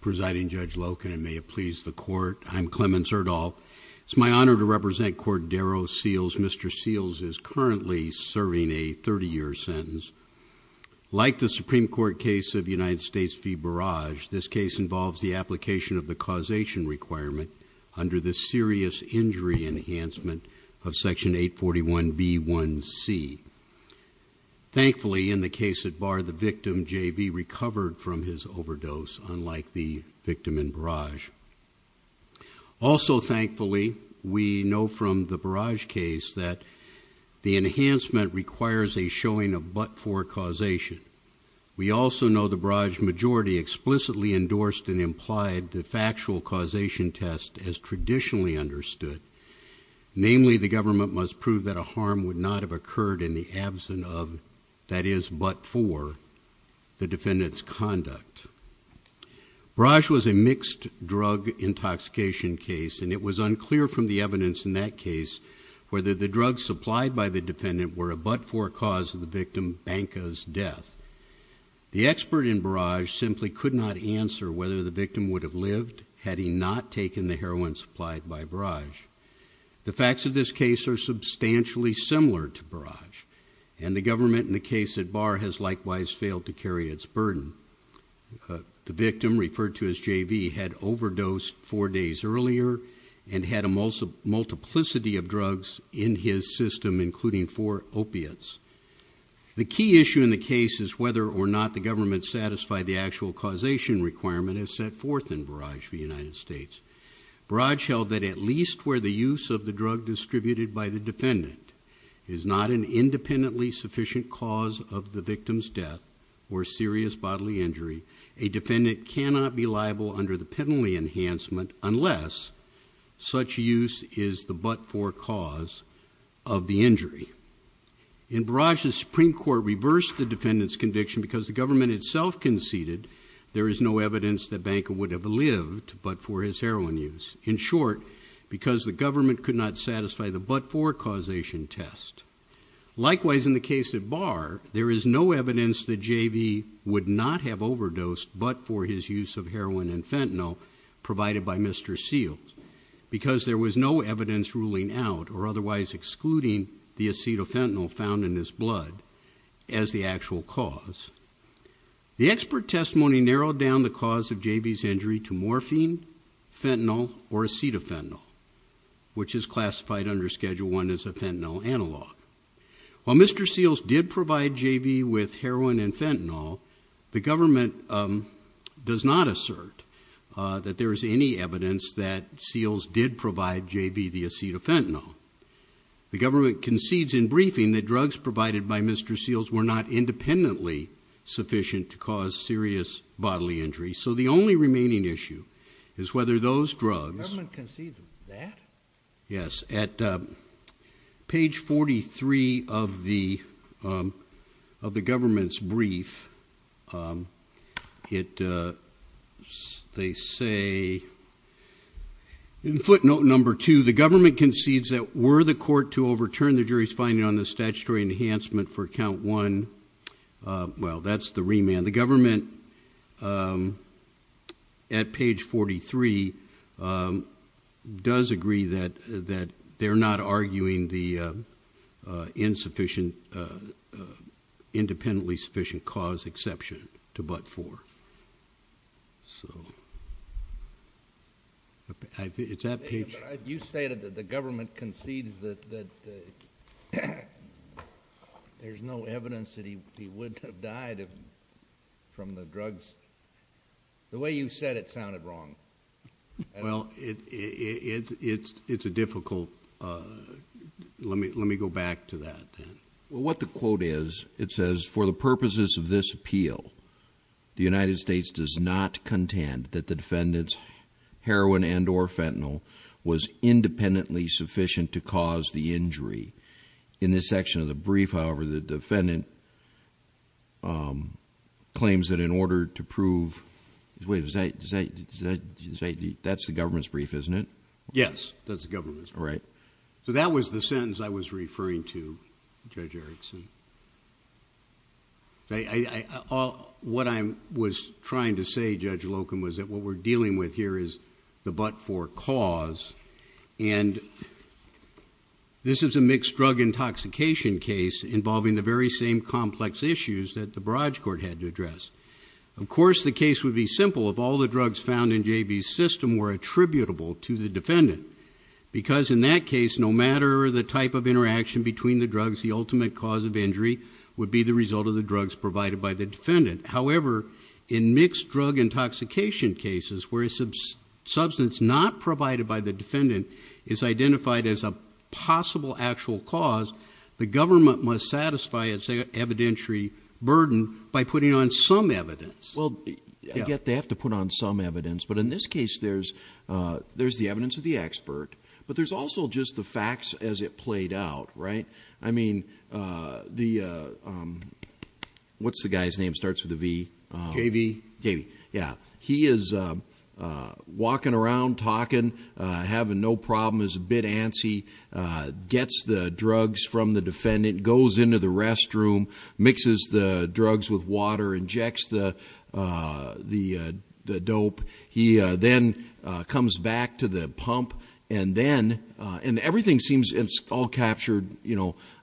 Presiding Judge Loken, and may it please the Court, I'm Clemens Erdahl. It's my honor to represent Cordero Seals. Mr. Seals is currently serving a 30-year sentence. Like the Supreme Court case of United States v. Barrage, this case involves the application of the causation requirement under the serious injury enhancement of section 841b1c. Thankfully, in the case at bar, the overdose, unlike the victim in Barrage. Also, thankfully, we know from the Barrage case that the enhancement requires a showing of but-for causation. We also know the Barrage majority explicitly endorsed and implied the factual causation test as traditionally understood. Namely, the government must prove that a harm would not have occurred in the absence of, that is, but- conduct. Barrage was a mixed drug intoxication case, and it was unclear from the evidence in that case whether the drugs supplied by the defendant were a but-for cause of the victim, Banca's, death. The expert in Barrage simply could not answer whether the victim would have lived had he not taken the heroin supplied by Barrage. The facts of this case are substantially similar to Barrage, and the government in the case at bar has likewise failed to carry its burden. The victim, referred to as JV, had overdosed four days earlier and had a multiplicity of drugs in his system, including four opiates. The key issue in the case is whether or not the government satisfied the actual causation requirement as set forth in Barrage v. United States. Barrage held that at least where the use of the drug distributed by the defendant is not an bodily injury, a defendant cannot be liable under the penalty enhancement unless such use is the but-for cause of the injury. In Barrage, the Supreme Court reversed the defendant's conviction because the government itself conceded there is no evidence that Banca would have lived but for his heroin use. In short, because the government could not satisfy the but-for causation test. Likewise, in the case at bar, there is no evidence that JV would not have overdosed but for his use of heroin and fentanyl provided by Mr. Seals, because there was no evidence ruling out or otherwise excluding the acetafentanyl found in his blood as the actual cause. The expert testimony narrowed down the cause of JV's injury to morphine, fentanyl, or acetafentanyl, which is While Mr. Seals did provide JV with heroin and fentanyl, the government does not assert that there is any evidence that Seals did provide JV the acetafentanyl. The government concedes in briefing that drugs provided by Mr. Seals were not independently sufficient to cause serious bodily injury. So the only three of the of the government's brief, they say in footnote number two, the government concedes that were the court to overturn the jury's finding on the statutory enhancement for count one, well that's the remand. The government at page 43 does agree that that they're not arguing the insufficient independently sufficient cause exception to but four. So I think it's at page... You say that the government concedes that there's no evidence that he would have died from the drugs. The way you said it sounded wrong. Well it's a difficult... let me go back to that. What the quote is, it says, for the purposes of this appeal, the United States does not contend that the defendant's heroin and or fentanyl was independently sufficient to cause the injury. In this section of the brief, however, the defendant claims that in order to prove... wait, that's the government's brief, isn't it? Yes, that's the government's brief. All right. So that was the sentence I was referring to, Judge Erickson. What I was trying to say, Judge Locum, was that what we're dealing with here is the but four cause and this is a mixed drug intoxication case involving the very same complex issues that the Barrage Court had to address. Of course, the case would be simple if all the drugs found in J.B.'s system were attributable to the defendant because in that case, no matter the type of interaction between the drugs, the ultimate cause of injury would be the result of the drug intoxication cases where a substance not provided by the defendant is identified as a possible actual cause. The government must satisfy its evidentiary burden by putting on some evidence. Well, I get they have to put on some evidence, but in this case, there's the evidence of the expert, but there's also just the facts as it played out, right? I mean, the... what's the guy's name? Starts with a V. J.B. J.B. Yeah. He is walking around, talking, having no problem, is a bit antsy, gets the drugs from the defendant, goes into the restroom, mixes the drugs with water, injects the dope. He then comes back to the pump and then... and everything seems... it's all captured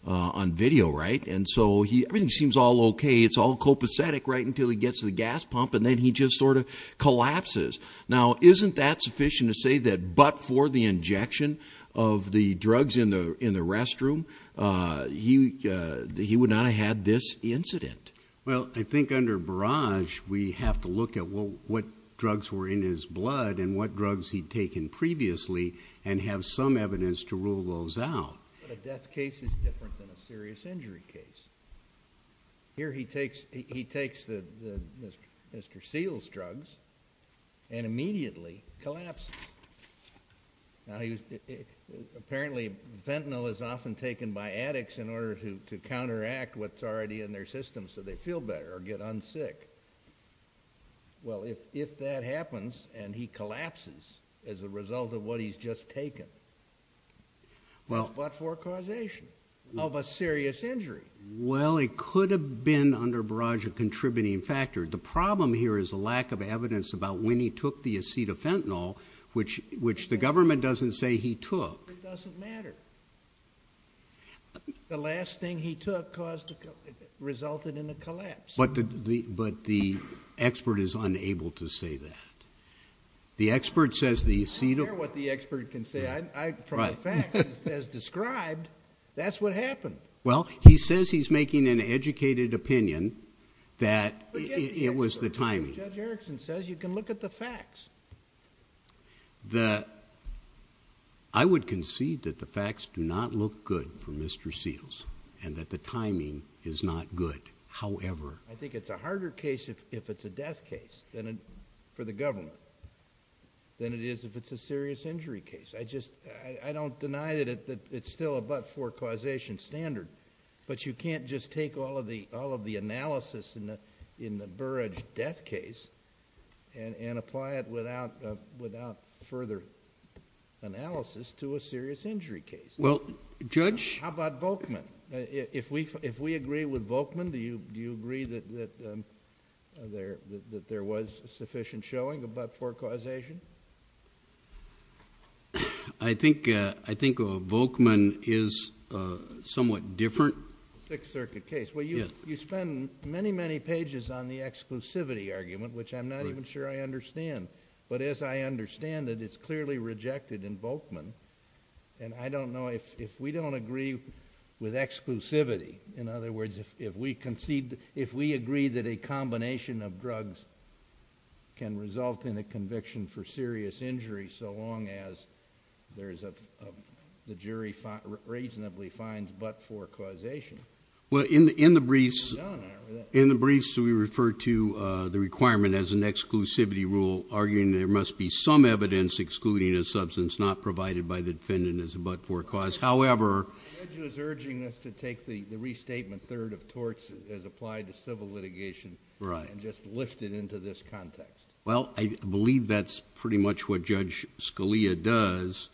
on video, right? And so, everything seems all copacetic right until he gets to the gas pump and then he just sort of collapses. Now, isn't that sufficient to say that but for the injection of the drugs in the restroom, he would not have had this incident? Well, I think under barrage, we have to look at what drugs were in his blood and what drugs he'd taken previously and have some evidence to rule those out. But a death case is different than a serious injury case. Here he takes Mr. Seale's drugs and immediately collapses. Now, apparently, fentanyl is often taken by addicts in order to counteract what's already in their system so they feel better or get un-sick. Well, if that happens and he collapses as a result of what he's just taken... Well... But for causation of a serious injury. Well, it could have been under barrage a contributing factor. The problem here is a lack of evidence about when he took the Acetafentanil which the government doesn't say he took. It doesn't matter. The last thing he took resulted in a collapse. But the expert is unable to say that. The expert says the Acetafentanil... I don't care what the expert can say. From the facts as described, that's what happened. Well, he says he's making an educated opinion that it was the timing. Judge Erickson says you can look at the facts. I would concede that the facts do not look good for Mr. Seales and that the timing is not good. However... I think it's a harder case if it's a death case for the government than it is if it's a serious injury case. I don't deny that it's still a but-for causation standard but you can't just take all of the analysis in the barrage death case and apply it without further analysis to a serious injury case. Well, Judge... How about Volkman? If we agree with Volkman, do you agree that there was sufficient showing of but-for causation? I think Volkman is somewhat different. A Sixth Circuit case. Well, you spend many, many pages on the exclusivity argument which I'm not even sure I understand. But as I understand it, it's clearly rejected in Volkman and I don't know if we don't agree with exclusivity. In other words, if we agree that a combination of drugs can result in a conviction for serious injury so long as the jury reasonably finds but-for causation... Well, in the briefs...... we refer to the requirement as an exclusivity rule arguing there must be some evidence excluding a substance not provided by the defendant as a but-for cause. However... The judge was urging us to take the restatement third of torts as applied to civil litigation... Right.... and just lift it into this context. Well, I believe that's pretty much what Judge Scalia does.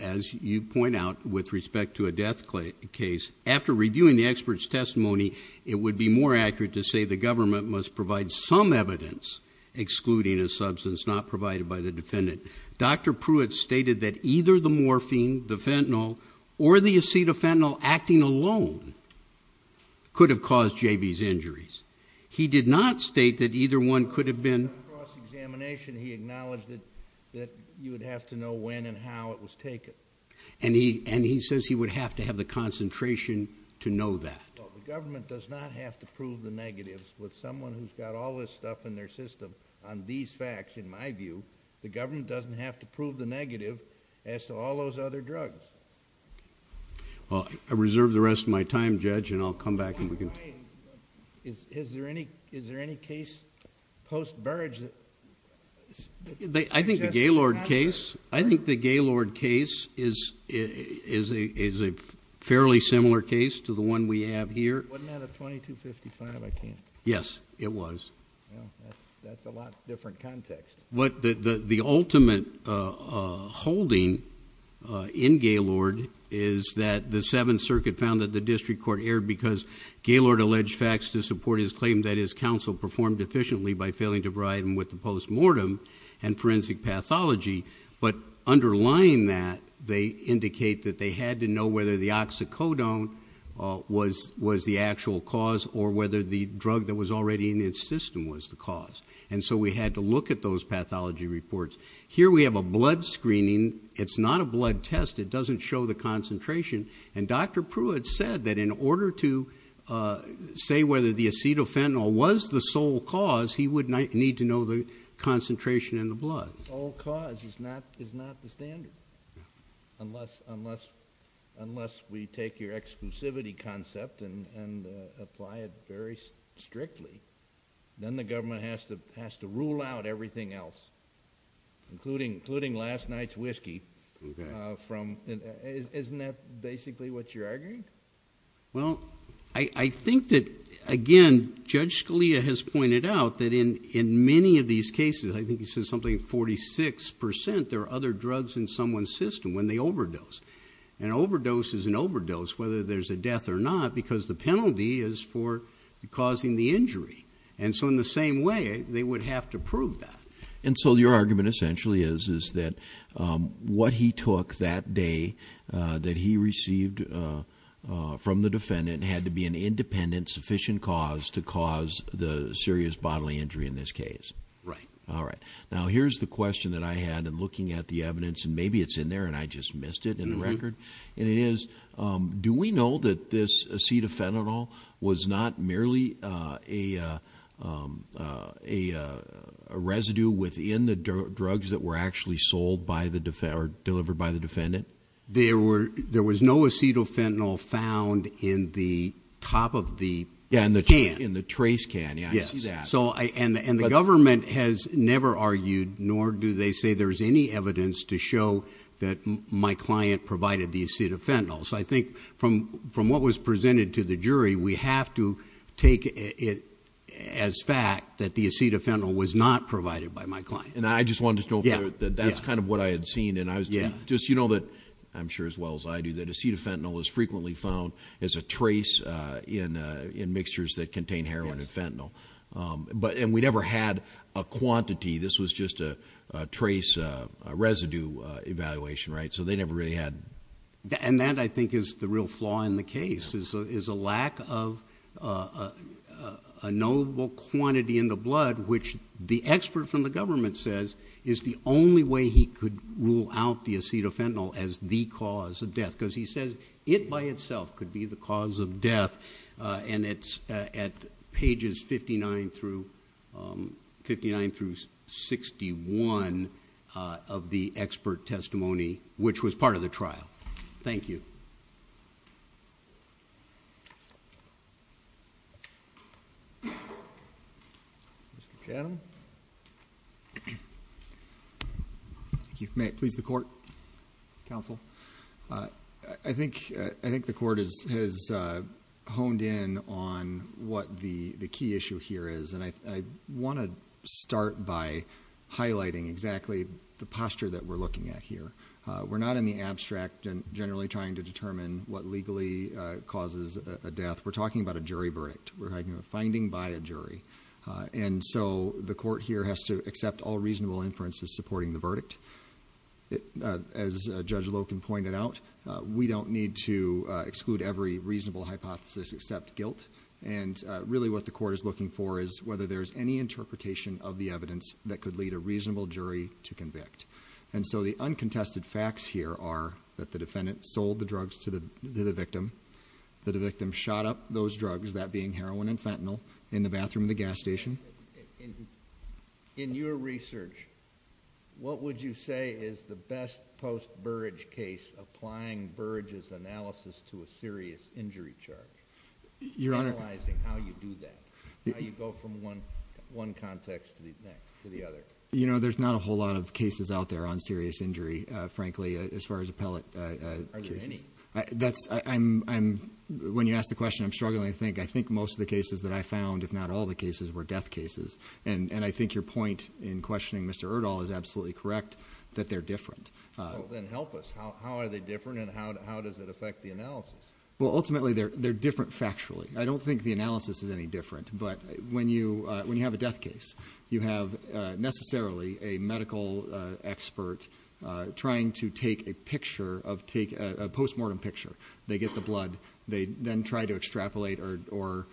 As you point out with respect to a death case, after reviewing the expert's testimony, it would be more accurate to say the government must provide some evidence excluding a substance not provided by the defendant. Dr. Pruitt stated that either the morphine, the fentanyl, or the acetafentanil acting alone could have caused J.B.'s injuries. He did not state that either one could have been...... cross-examination. He acknowledged that you would have to know when and how it was taken. And he says he would have to have the concentration to know that. Well, the government does not have to prove the negatives with someone who's got all this stuff in their system on these facts. In my view, the government doesn't have to prove the negative as to all those other drugs. Well, I reserve the rest of my time, Judge, and I'll come back and we can... Is there any case post-Burge that... I think the Gaylord case is a fairly similar case to the one we have here. Wasn't that a 2255? I can't... Yes, it was. Well, that's a lot different context. The ultimate holding in Gaylord is that the Seventh Circuit found that the District Court erred because Gaylord alleged facts to support his claim that his counsel performed efficiently by failing to provide him with the post-mortem and forensic pathology. But underlying that, they indicate that they had to know whether the oxycodone was the actual cause or whether the drug that was already in its system was the cause. And so we had to look at those pathology reports. Here, we have a blood screening. It's not a blood test. It doesn't show the concentration. And Dr. Pruitt said that in order to say whether the acetyl fentanyl was the sole cause, he would need to know the concentration in the blood. The sole cause is not the standard, unless we take your exclusivity concept and apply it very strictly. Then the government has to rule out everything else, including last night's whiskey. Isn't that basically what you're arguing? Well, I think that again, Judge Scalia has pointed out that in many of these cases, I think he said something 46%, there are other drugs in someone's system when they overdose. An overdose is an overdose whether there's a death or not, because the penalty is for causing the injury. And so in the same way, they would have to prove that. And so your argument essentially is, is that what he took that day that he received from the defendant had to be an independent, sufficient cause to cause the serious bodily injury in this case. Right. All right. Now, here's the question that I had in looking at the evidence, and maybe it's in there and I just missed it in the record. And it is, do we know that this acetyl fentanyl was not merely a residue within the drugs that were actually sold by the, or delivered by the defendant? There was no acetyl fentanyl found in the top of the can. Yeah, in the trace can. Yeah, I see that. And the government has never argued, nor do they say there's any evidence to show that my client provided the acetyl fentanyl. So I think from what was presented to the jury, we have to take it as fact that the acetyl fentanyl was not provided by my client. And I just wanted to know that that's kind of what I had seen. And I was just, you know that, I'm sure as well as I do, that acetyl fentanyl is frequently found as a trace in mixtures that contain heroin and fentanyl. And we never had a quantity, this was just a trace residue evaluation, right? So they never really had. And that I think is the real flaw in the case, is a lack of a notable quantity in the blood, which the expert from the government says is the only way he could rule out the acetyl fentanyl as the cause of death. Because he says it by itself could be the cause of death. And it's at pages 59 through 61 of the expert testimony, which was part of the trial. Thank you. Thank you. Mr. Chatham. Thank you. May it please the Court, Counsel? I think the Court has honed in on what the key issue here is. And I want to start by highlighting exactly the posture that we're looking at here. We're not in the abstract and generally trying to determine what legally causes a death. We're talking about a jury verdict. We're talking about a finding by a jury. And so the Court here has to accept all reasonable inferences supporting the verdict. As Judge Loken pointed out, we don't need to exclude every reasonable hypothesis except guilt. And really what the Court is looking for is whether there's any interpretation of the evidence that could lead a reasonable jury to convict. And so the uncontested facts here are that the defendant sold the drugs to the victim, that the victim shot up those drugs, that being heroin and fentanyl, in the bathroom of the gas station. In your research, what would you say is the best post-Burige case applying Burige's analysis to a serious injury charge, analyzing how you do that, how you go from one context to the other? You know, there's not a whole lot of cases out there on serious injury, frankly, as far as appellate cases. Are there any? That's, I'm, when you ask the question, I'm struggling to think. I think most of the cases that I found, if not all the cases, were death cases. And I think your point in questioning Mr. Erdahl is absolutely correct that they're different. Well, then help us. How are they different, and how does it affect the analysis? Well, ultimately, they're different factually. I don't think the analysis is any different. But when you have a death case, you have necessarily a trying to take a picture of, a post-mortem picture. They get the blood. They then try to extrapolate or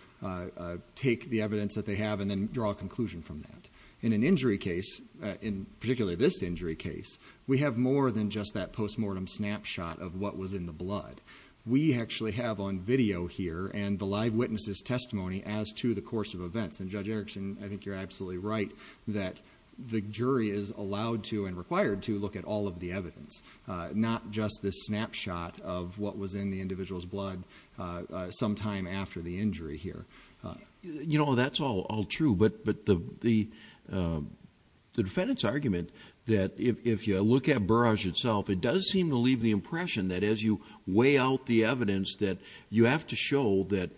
take the evidence that they have and then draw a conclusion from that. In an injury case, in particularly this injury case, we have more than just that post-mortem snapshot of what was in the blood. We actually have on video here, and the live witness's testimony as to the course of events. And Judge Erickson, I think you're absolutely right that the jury is looking for evidence, not just this snapshot of what was in the individual's blood sometime after the injury here. You know, that's all true. But the defendant's argument that if you look at Burrage itself, it does seem to leave the impression that as you weigh out the evidence, that you have to show that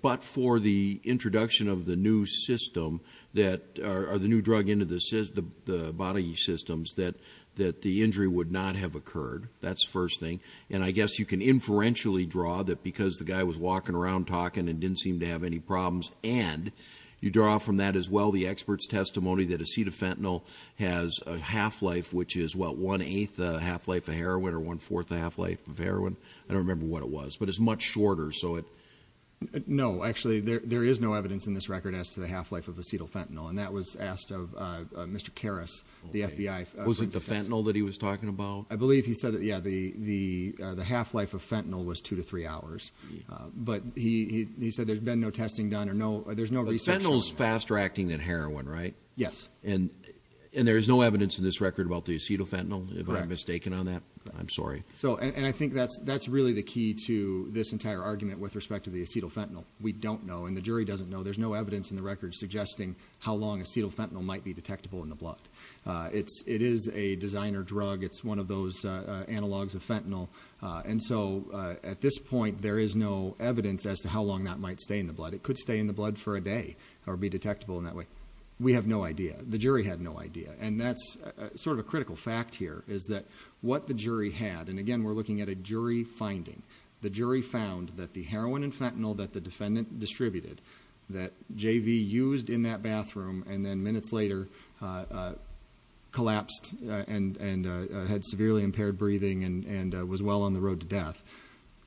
but for the introduction of the new system, or the new drug into the body systems, that the injury would not have occurred. That's the first thing. And I guess you can inferentially draw that because the guy was walking around talking and didn't seem to have any problems, and you draw from that as well the expert's testimony that Acetafentanil has a half-life, which is what, one-eighth a half-life of heroin or one-fourth a half-life of heroin? I don't remember what it was. But it's much shorter, so it... No, actually, there is no evidence in this record as to the half-life of Acetafentanil. And that was asked of Mr. Karras, the FBI. Was it the fentanyl that he was talking about? I believe he said that, yeah, the half-life of fentanyl was two to three hours. But he said there's been no testing done or no... there's no research showing that. But fentanyl's faster-acting than heroin, right? Yes. And there's no evidence in this record about the Acetafentanil, if I'm mistaken on that? I'm sorry. And I think that's really the key to this entire argument with respect to the Acetafentanil. We don't know, and the jury doesn't know, there's no evidence in the record suggesting how long Acetafentanil might be detectable in the blood. It is a designer drug. It's one of those analogs of fentanyl. And so, at this point, there is no evidence as to how long that might stay in the blood. It could stay in the blood for a day or be detectable in that way. We have no idea. The jury had no idea. And that's sort of a critical fact here, is that what the jury had... and again, we're looking at a jury finding. The jury found that the heroin and fentanyl that the defendant distributed, that JV used in that bathroom, and then minutes later collapsed and had severely impaired breathing and was well on the road to death,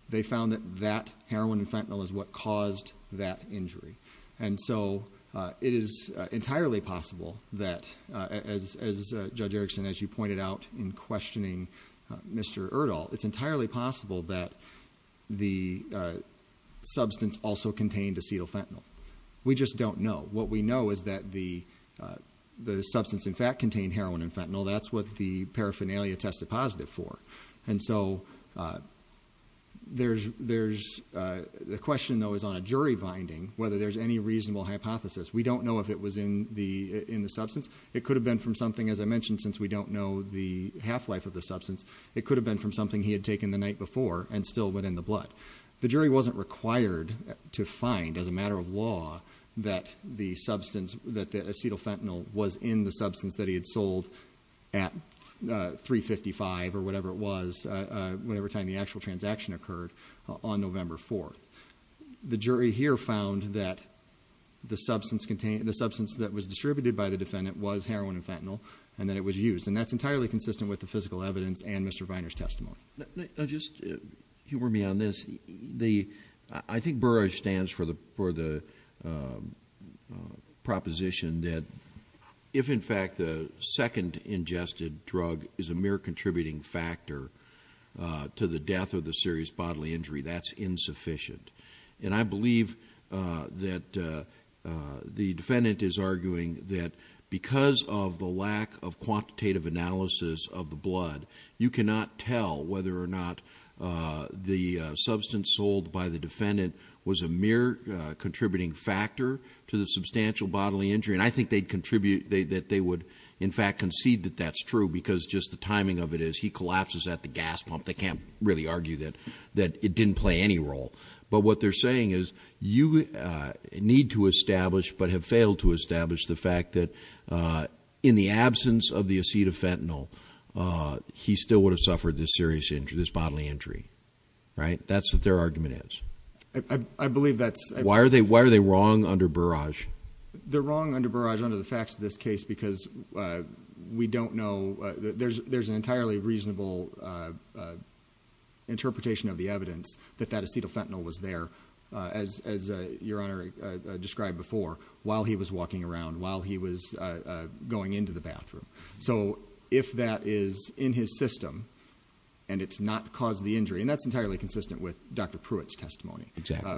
they found that that heroin and fentanyl is what caused that injury. And so, it is entirely possible that, as Judge Erickson, as you pointed out in questioning Mr. Erdahl, it's entirely possible that the substance also contained Acetafentanil. We just don't know. What we know is that the substance, in fact, contained heroin and fentanyl. That's what the paraphernalia tested positive for. And so, the question, though, is on a jury finding, whether there's any reasonable hypothesis. We don't know if it was in the substance. It could have been from something, as I mentioned, since we don't know the half-life of the substance, it could have been from something he had taken the night before and still went in the blood. The jury wasn't required to find, as a matter of fact, that the substance, that the Acetafentanil was in the substance that he had sold at 355 or whatever it was, whatever time the actual transaction occurred on November 4th. The jury here found that the substance that was distributed by the defendant was heroin and fentanyl and that it was used. And that's entirely consistent with the physical evidence and Mr. Viner's testimony. Just humor me on this. I think Burrage stands for the proposition that if, in fact, the second ingested drug is a mere contributing factor to the death of the serious bodily injury, that's insufficient. And I believe that the defendant is arguing that because of the lack of quantitative analysis of blood, you cannot tell whether or not the substance sold by the defendant was a mere contributing factor to the substantial bodily injury. And I think they'd contribute, that they would, in fact, concede that that's true because just the timing of it is he collapses at the gas pump. They can't really argue that it didn't play any role. But what they're saying is you need to establish, but have failed to establish, the fact that in the absence of the fentanyl, he still would have suffered this serious injury, this bodily injury. Right? That's what their argument is. I believe that's... Why are they wrong under Burrage? They're wrong under Burrage under the facts of this case because we don't know. There's an entirely reasonable interpretation of the evidence that that acetyl fentanyl was there, as Your Honor described before, while he was in the hospital. If that is in his system and it's not caused the injury, and that's entirely consistent with Dr. Pruitt's testimony,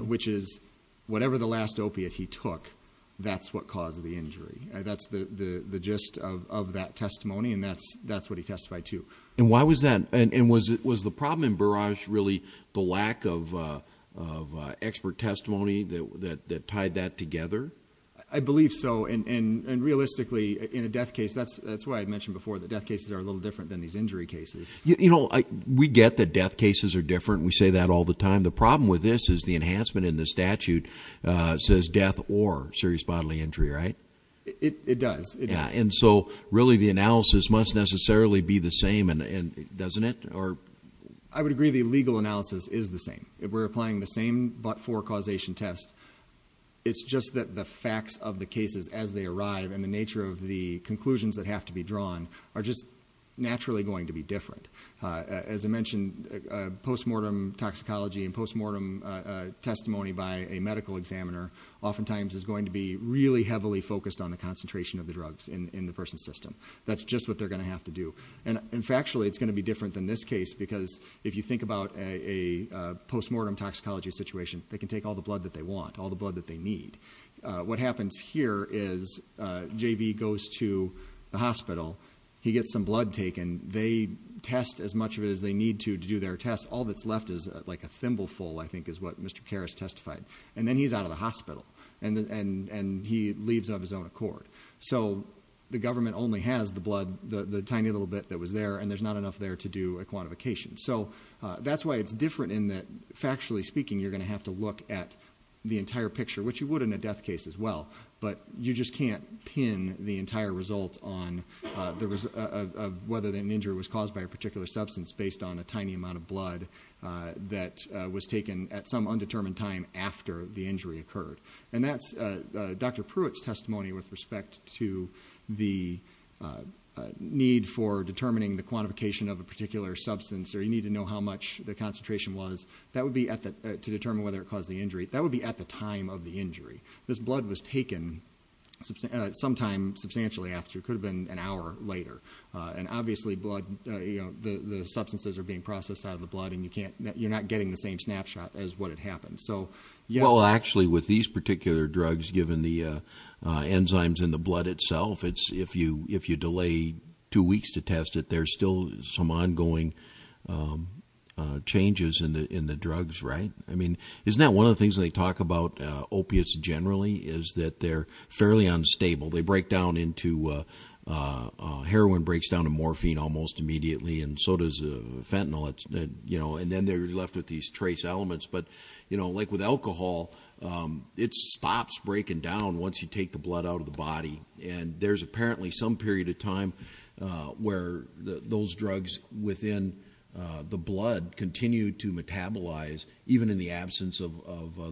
which is whatever the last opiate he took, that's what caused the injury. That's the gist of that testimony and that's what he testified to. And why was that? And was the problem in Burrage really the lack of expert testimony that tied that together? I believe so. And realistically, in a death case, that's why I mentioned before that death cases are a little different than these injury cases. We get that death cases are different. We say that all the time. The problem with this is the enhancement in the statute says death or serious bodily injury, right? It does. Yeah. And so really the analysis must necessarily be the same, doesn't it? I would agree the legal analysis is the same. We're applying the same but-for causation test. It's just that the facts of the cases as they arrive and the conclusions that have to be drawn are just naturally going to be different. As I mentioned, postmortem toxicology and postmortem testimony by a medical examiner oftentimes is going to be really heavily focused on the concentration of the drugs in the person's system. That's just what they're going to have to do. And factually, it's going to be different than this case because if you think about a postmortem toxicology situation, they can take all the blood that they want, all the blood that they need. What happens here is JV goes to the hospital. He gets some blood taken. They test as much of it as they need to do their test. All that's left is like a thimble full, I think is what Mr. Karras testified. And then he's out of the hospital and he leaves of his own accord. So the government only has the blood, the tiny little bit that was there and there's not enough there to do a quantification. So that's why it's different in that factually speaking, you're going to have to look at the entire picture, which you would in a death case as well, but you just can't pin the entire result on whether an injury was caused by a particular substance based on a tiny amount of blood that was taken at some undetermined time after the injury occurred. And that's Dr. Pruitt's testimony with respect to the need for determining the quantification of a particular substance or you need to know how much the That would be at the time of the injury. This blood was taken sometime substantially after. It could have been an hour later. And obviously the substances are being processed out of the blood and you're not getting the same snapshot as what had happened. Well, actually with these particular drugs, given the enzymes in the blood itself, if you delay two weeks to test it, there's still some ongoing changes in the drugs, right? I mean, isn't that one of the things they talk about opiates generally is that they're fairly unstable. They break down into heroin breaks down to morphine almost immediately and so does fentanyl. And then they're left with these trace elements, but like with alcohol, it stops breaking down once you take the blood out of the body. And there's apparently some period of time where those drugs within the blood continue to metabolize, even in the absence of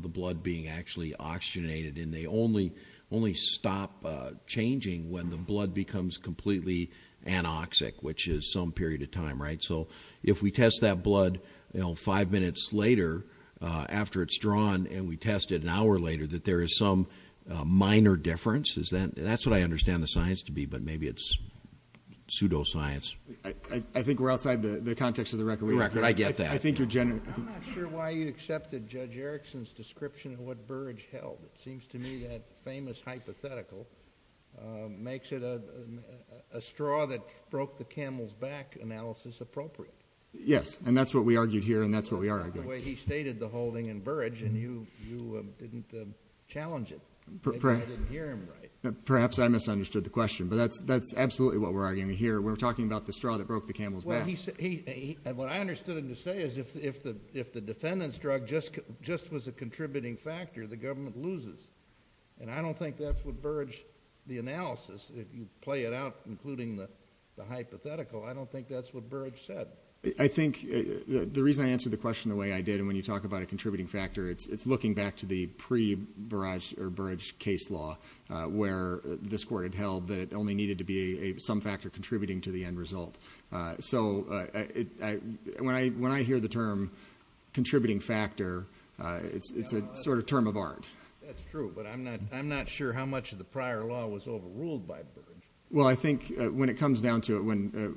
the blood being actually oxygenated. And they only only stop changing when the blood becomes completely anoxic, which is some period of time, right? So if we test that blood, you know, five minutes later after it's drawn and we tested an hour later that there is some minor difference is that that's what I understand the science to be. But maybe it's pseudoscience. I think we're outside the context of the record record. I think you're general. I'm not sure why you accepted Judge Erickson's description of what Burge held. It seems to me that famous hypothetical makes it a straw that broke the camel's back analysis appropriate. Yes. And that's what we argued here. And that's what we are arguing. He stated the holding in Burge and you didn't challenge it. Perhaps I misunderstood the question, but that's that's absolutely what we're arguing here. We're talking about the straw that broke the camel's back. And what I understood him to say is if the if the defendant's drug just just was a contributing factor, the government loses. And I don't think that's what Burge the analysis, if you play it out, including the hypothetical, I don't think that's what Burge said. I think the reason I answer the question the way I did, and when you talk about a contributing factor, it's looking back to the pre Burrage or Burge case law where this court had held that it only needed to be some factor contributing to the end result. So when I when I hear the term contributing factor, it's a sort of term of art. That's true. But I'm not I'm not sure how much of the prior law was overruled by. Well, I think when it comes down to it, when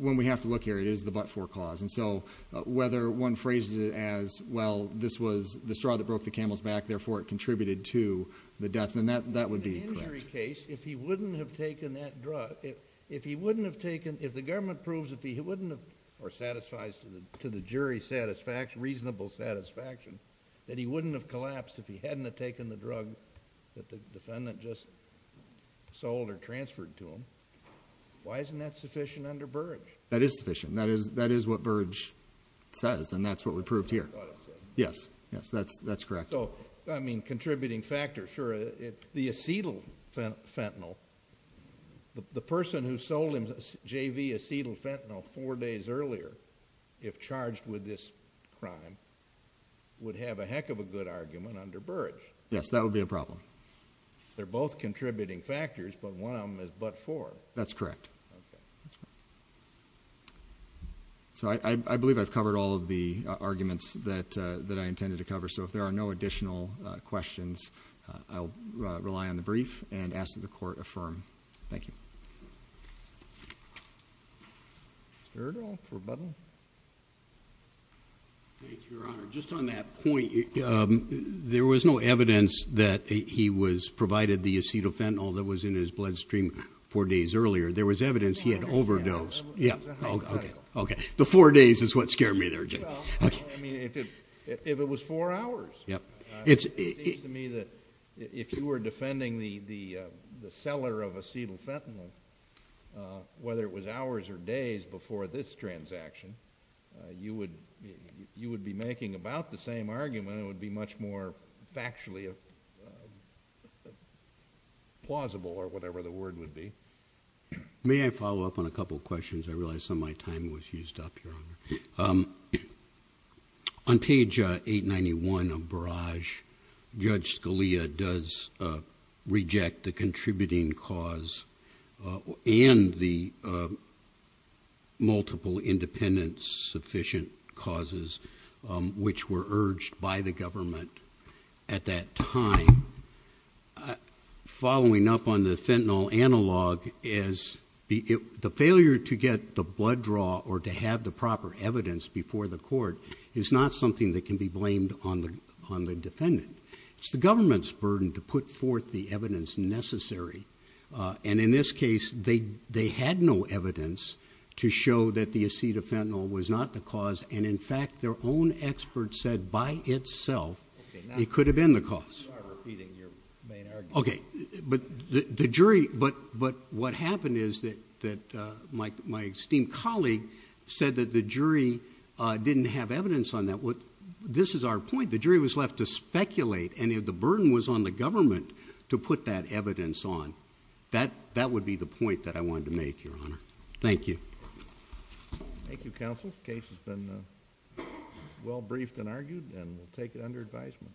when we have to look here, it is the but for cause. And so whether one phrases it as, well, this was the straw that broke the camel's back, therefore, it contributed to the death and that that would be a case if he wouldn't have taken that drug. If he wouldn't have taken if the government proves that he wouldn't have or satisfies to the jury satisfaction, reasonable satisfaction that he wouldn't have collapsed if he hadn't taken the drug that the defendant just sold or transferred to him. Why isn't that sufficient under Burge? That is sufficient. That is that is what Burge says. And that's what we proved here. Yes, yes, that's that's correct. So, I mean, contributing factor for the acetyl fentanyl, the person who sold him J.V. acetyl fentanyl four days earlier, if charged with this crime, would have a heck of a good argument under Burge. Yes, that would be a problem. They're both contributing factors, but one of them is but for. That's correct. So I believe I've covered all of the arguments that that I intended to cover. So if there are no additional questions, I'll rely on the brief and ask that the court affirm. Thank you. Just on that point, there was no evidence that he was provided the acetyl fentanyl that was in his bloodstream four days earlier. There was evidence he had overdosed. Yeah, OK. The four days is what scared me there. I mean, if it if it was four hours. Yeah, it's to me that if you were defending the the the seller of acetyl fentanyl, whether it was hours or days before this transaction, you would you would be making about the same argument. It would be much more factually plausible or whatever the word would be. May I follow up on a couple of questions? I realize some of my time was used up. On page 891 of Barrage, Judge Scalia does reject the contributing cause and the multiple independence sufficient causes which were urged by the government at that time. I following up on the fentanyl analog is the failure to get the blood draw or to have the proper evidence before the court is not something that can be blamed on the on the defendant. It's the government's burden to put forth the evidence necessary. And in this case, they they had no evidence to show that the acetyl fentanyl was not the cause. And in fact, their own expert said by itself, it could have been the cause. OK, but the jury. But but what happened is that that my my esteemed colleague said that the jury didn't have evidence on that. This is our point. The jury was left to speculate and the burden was on the government to put that evidence on that. That would be the point that I wanted to make, Your Honor. Thank you. Thank you, counsel. Case has been well briefed and argued and we'll take it under advisement.